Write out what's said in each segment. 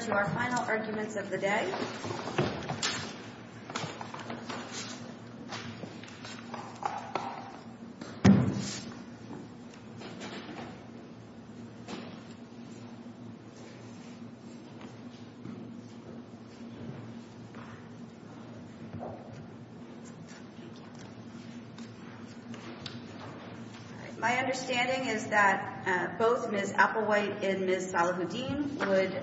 to our final arguments of the day. My understanding is that both Ms. Applewhite and Ms. Salahuddin would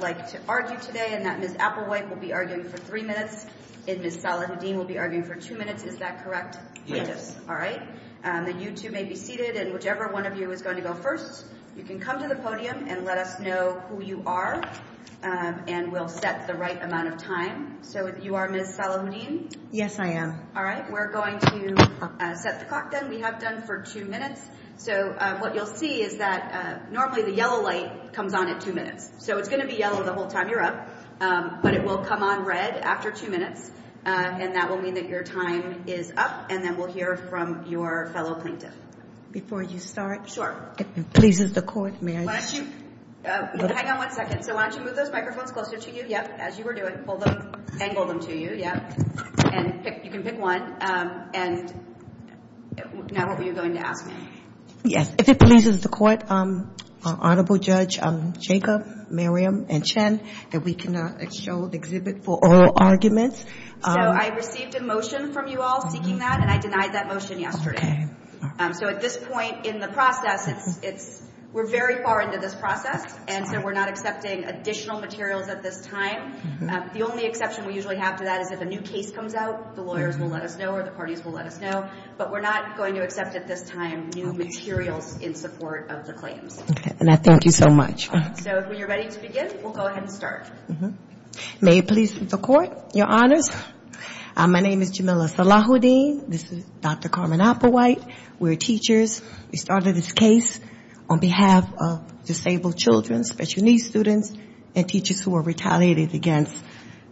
like to argue today and that Ms. Applewhite will be arguing for three minutes and Ms. Salahuddin will be arguing for two minutes. Is that correct? Yes. All right. Then you two may be seated and whichever one of you is going to go first, you can come to the podium and let us know who you are and we'll set the right amount of time. So you are Ms. Salahuddin? Yes, I am. All right. We're going to set the clock then. We have done for two minutes. So what you'll see is that normally the yellow light comes on at two minutes. So it's going to be yellow the whole time you're up, but it will come on red after two minutes and that will mean that your time is up and then we'll hear from your fellow plaintiff. Before you start? If it pleases the court, may I? Why don't you... Hang on one second. So why don't you move those microphones closer to you? Yep. As you were doing. Pull them... Angle them to you. Yep. And pick... You can pick one. And now what were you going to ask me? Yes. If it pleases the court, Honorable Judge Jacob, Miriam, and Chen, that we can show the exhibit for oral arguments. So I received a motion from you all seeking that and I denied that motion yesterday. So at this point in the process, it's... We're very far into this process and so we're not accepting additional materials at this time. The only exception we usually have to that is if a new case comes out, the lawyers will let us know or the parties will let us know, but we're not going to accept at this time new materials in support of the claims. Okay. And I thank you so much. So when you're ready to begin, we'll go ahead and start. May it please the court. Your Honors, my name is Jamila Salahuddin. This is Dr. Carmen Applewhite. We're teachers. We started this case on behalf of disabled children, special needs students, and teachers who were retaliated against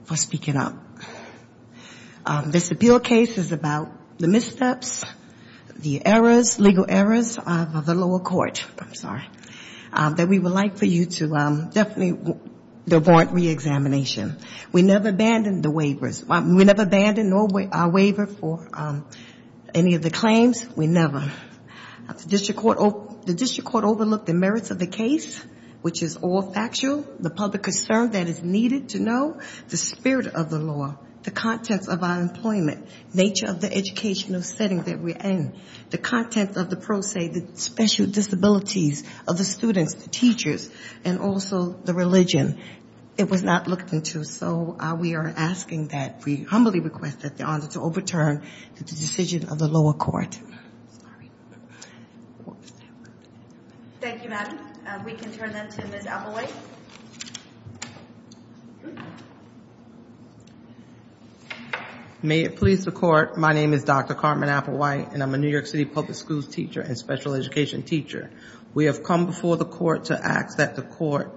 for speaking up. This appeal case is about the missteps, the errors, legal errors of the lower court that we would like for you to definitely avoid re-examination. We never abandoned the waivers. We never abandoned our waiver for any of the claims. We never. The district court overlooked the merits of the case, which is all factual, the public concern that is needed to know, the spirit of the law, the contents of our employment, nature of the educational setting that we're in, the contents of the pro se, the special disabilities of the students, the teachers, and also the religion. It was not looked into. So we are asking that we humbly request that the honor to overturn the decision of the lower court. Thank you, Madam. We can turn that to Ms. Applewhite. May it please the court, my name is Dr. Carmen Applewhite, and I'm a New York City public school teacher and special education teacher. We have come before the court to ask that the court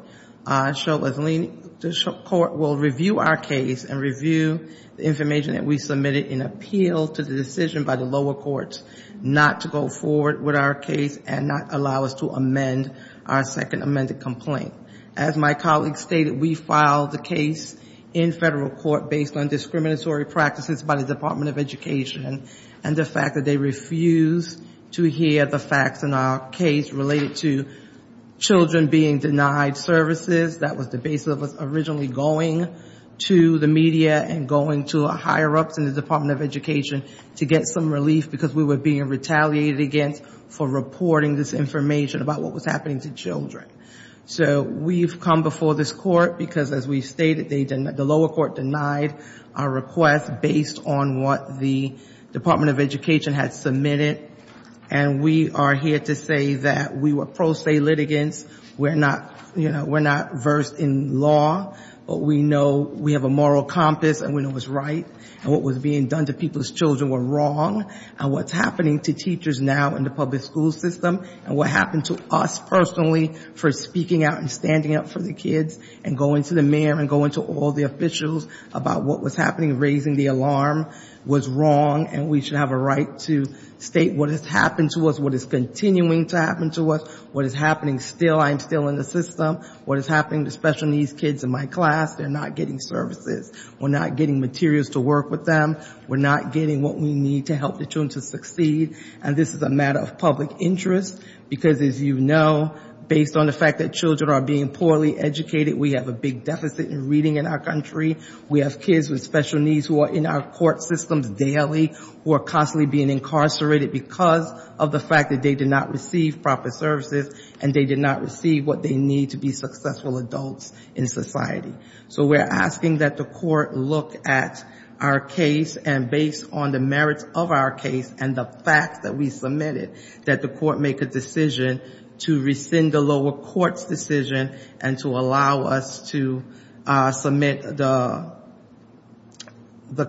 will review our case and review the information that we submitted in appeal to the decision by the lower courts not to go forward with our case and not allow us to amend our second amended complaint. As my colleague stated, we filed the case in federal court based on discriminatory practices by the Department of Education and the fact that they refused to hear the facts in our case related to children being denied services. That was the basis of us originally going to the media and going to a higher ups in the Department of Education to get some relief because we were being retaliated against for reporting this information about what was happening to children. So we've come before this court because as we stated, the lower court denied our request based on what the Department of Education had submitted. And we are here to say that we were pro se litigants. We're not, you know, we're not versed in law, but we know we have a moral compass and we know what's right and what was being done to people's children were wrong and what's happening to teachers now in the public school system and what happened to us personally for speaking out and standing up for the kids and going to the mayor and going to all the officials about what was happening, raising the alarm was wrong and we should have a right to state what has happened to us, what is continuing to happen to us, what is happening still, I am still in the system, what is happening to special needs kids in my class, they're not getting services. We're not getting materials to work with them. We're not getting what we need to help the children to succeed. And this is a matter of public interest because as you know, based on the fact that children are being poorly educated, we have a big deficit in reading in our country, we have kids with special needs who are in our court systems daily, who are constantly being incarcerated because of the fact that they did not receive proper services and they did not receive what they need to be successful adults in society. So we're asking that the court look at our case and based on the merits of our case and the facts that we submitted, that the court make a decision to rescind the lower court's decision and to allow us to submit the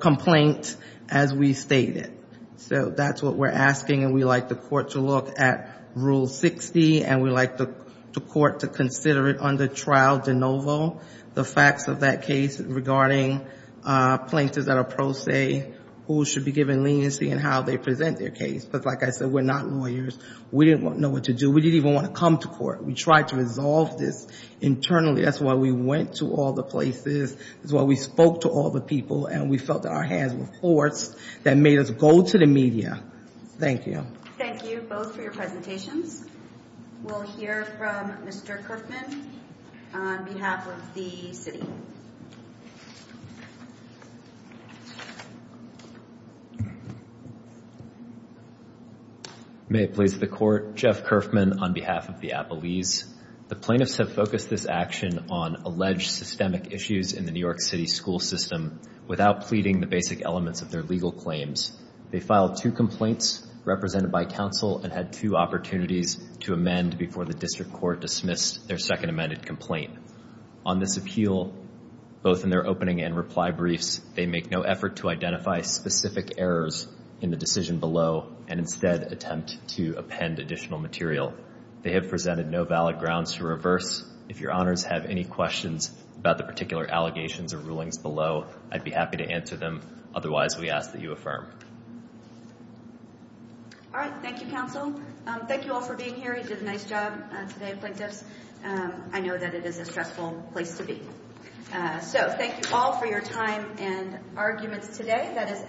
complaint as we stated. So that's what we're asking and we'd like the court to look at Rule 60 and we'd like the court to consider it under Trial De Novo, the facts of that case regarding plaintiffs that are pro se who should be given leniency and how they present their case. But like I said, we're not lawyers. We didn't know what to do. We didn't even want to come to court. We tried to resolve this internally. That's why we went to all the places. That's why we spoke to all the people and we felt that our hands were forced that made us go to the media. Thank you. Thank you both for your presentations. We'll hear from Mr. Kerfman on behalf of the city. May it please the court, Jeff Kerfman on behalf of the Appalese. The plaintiffs have focused this action on alleged systemic issues in the New York City school system without pleading the basic elements of their legal claims. They filed two complaints represented by counsel and had two opportunities to amend before the district court dismissed their second amended complaint. On this appeal, both in their opening and reply briefs, they make no effort to identify specific errors in the decision below and instead attempt to append additional material. They have presented no valid grounds to reverse. If your honors have any questions about the particular allegations or rulings below, I'd be happy to answer them. Otherwise, we ask that you affirm. All right. Thank you, counsel. Thank you all for being here. You did a nice job today, plaintiffs. I know that it is a stressful place to be. So, thank you all for your time and arguments today. That is everything we have for today.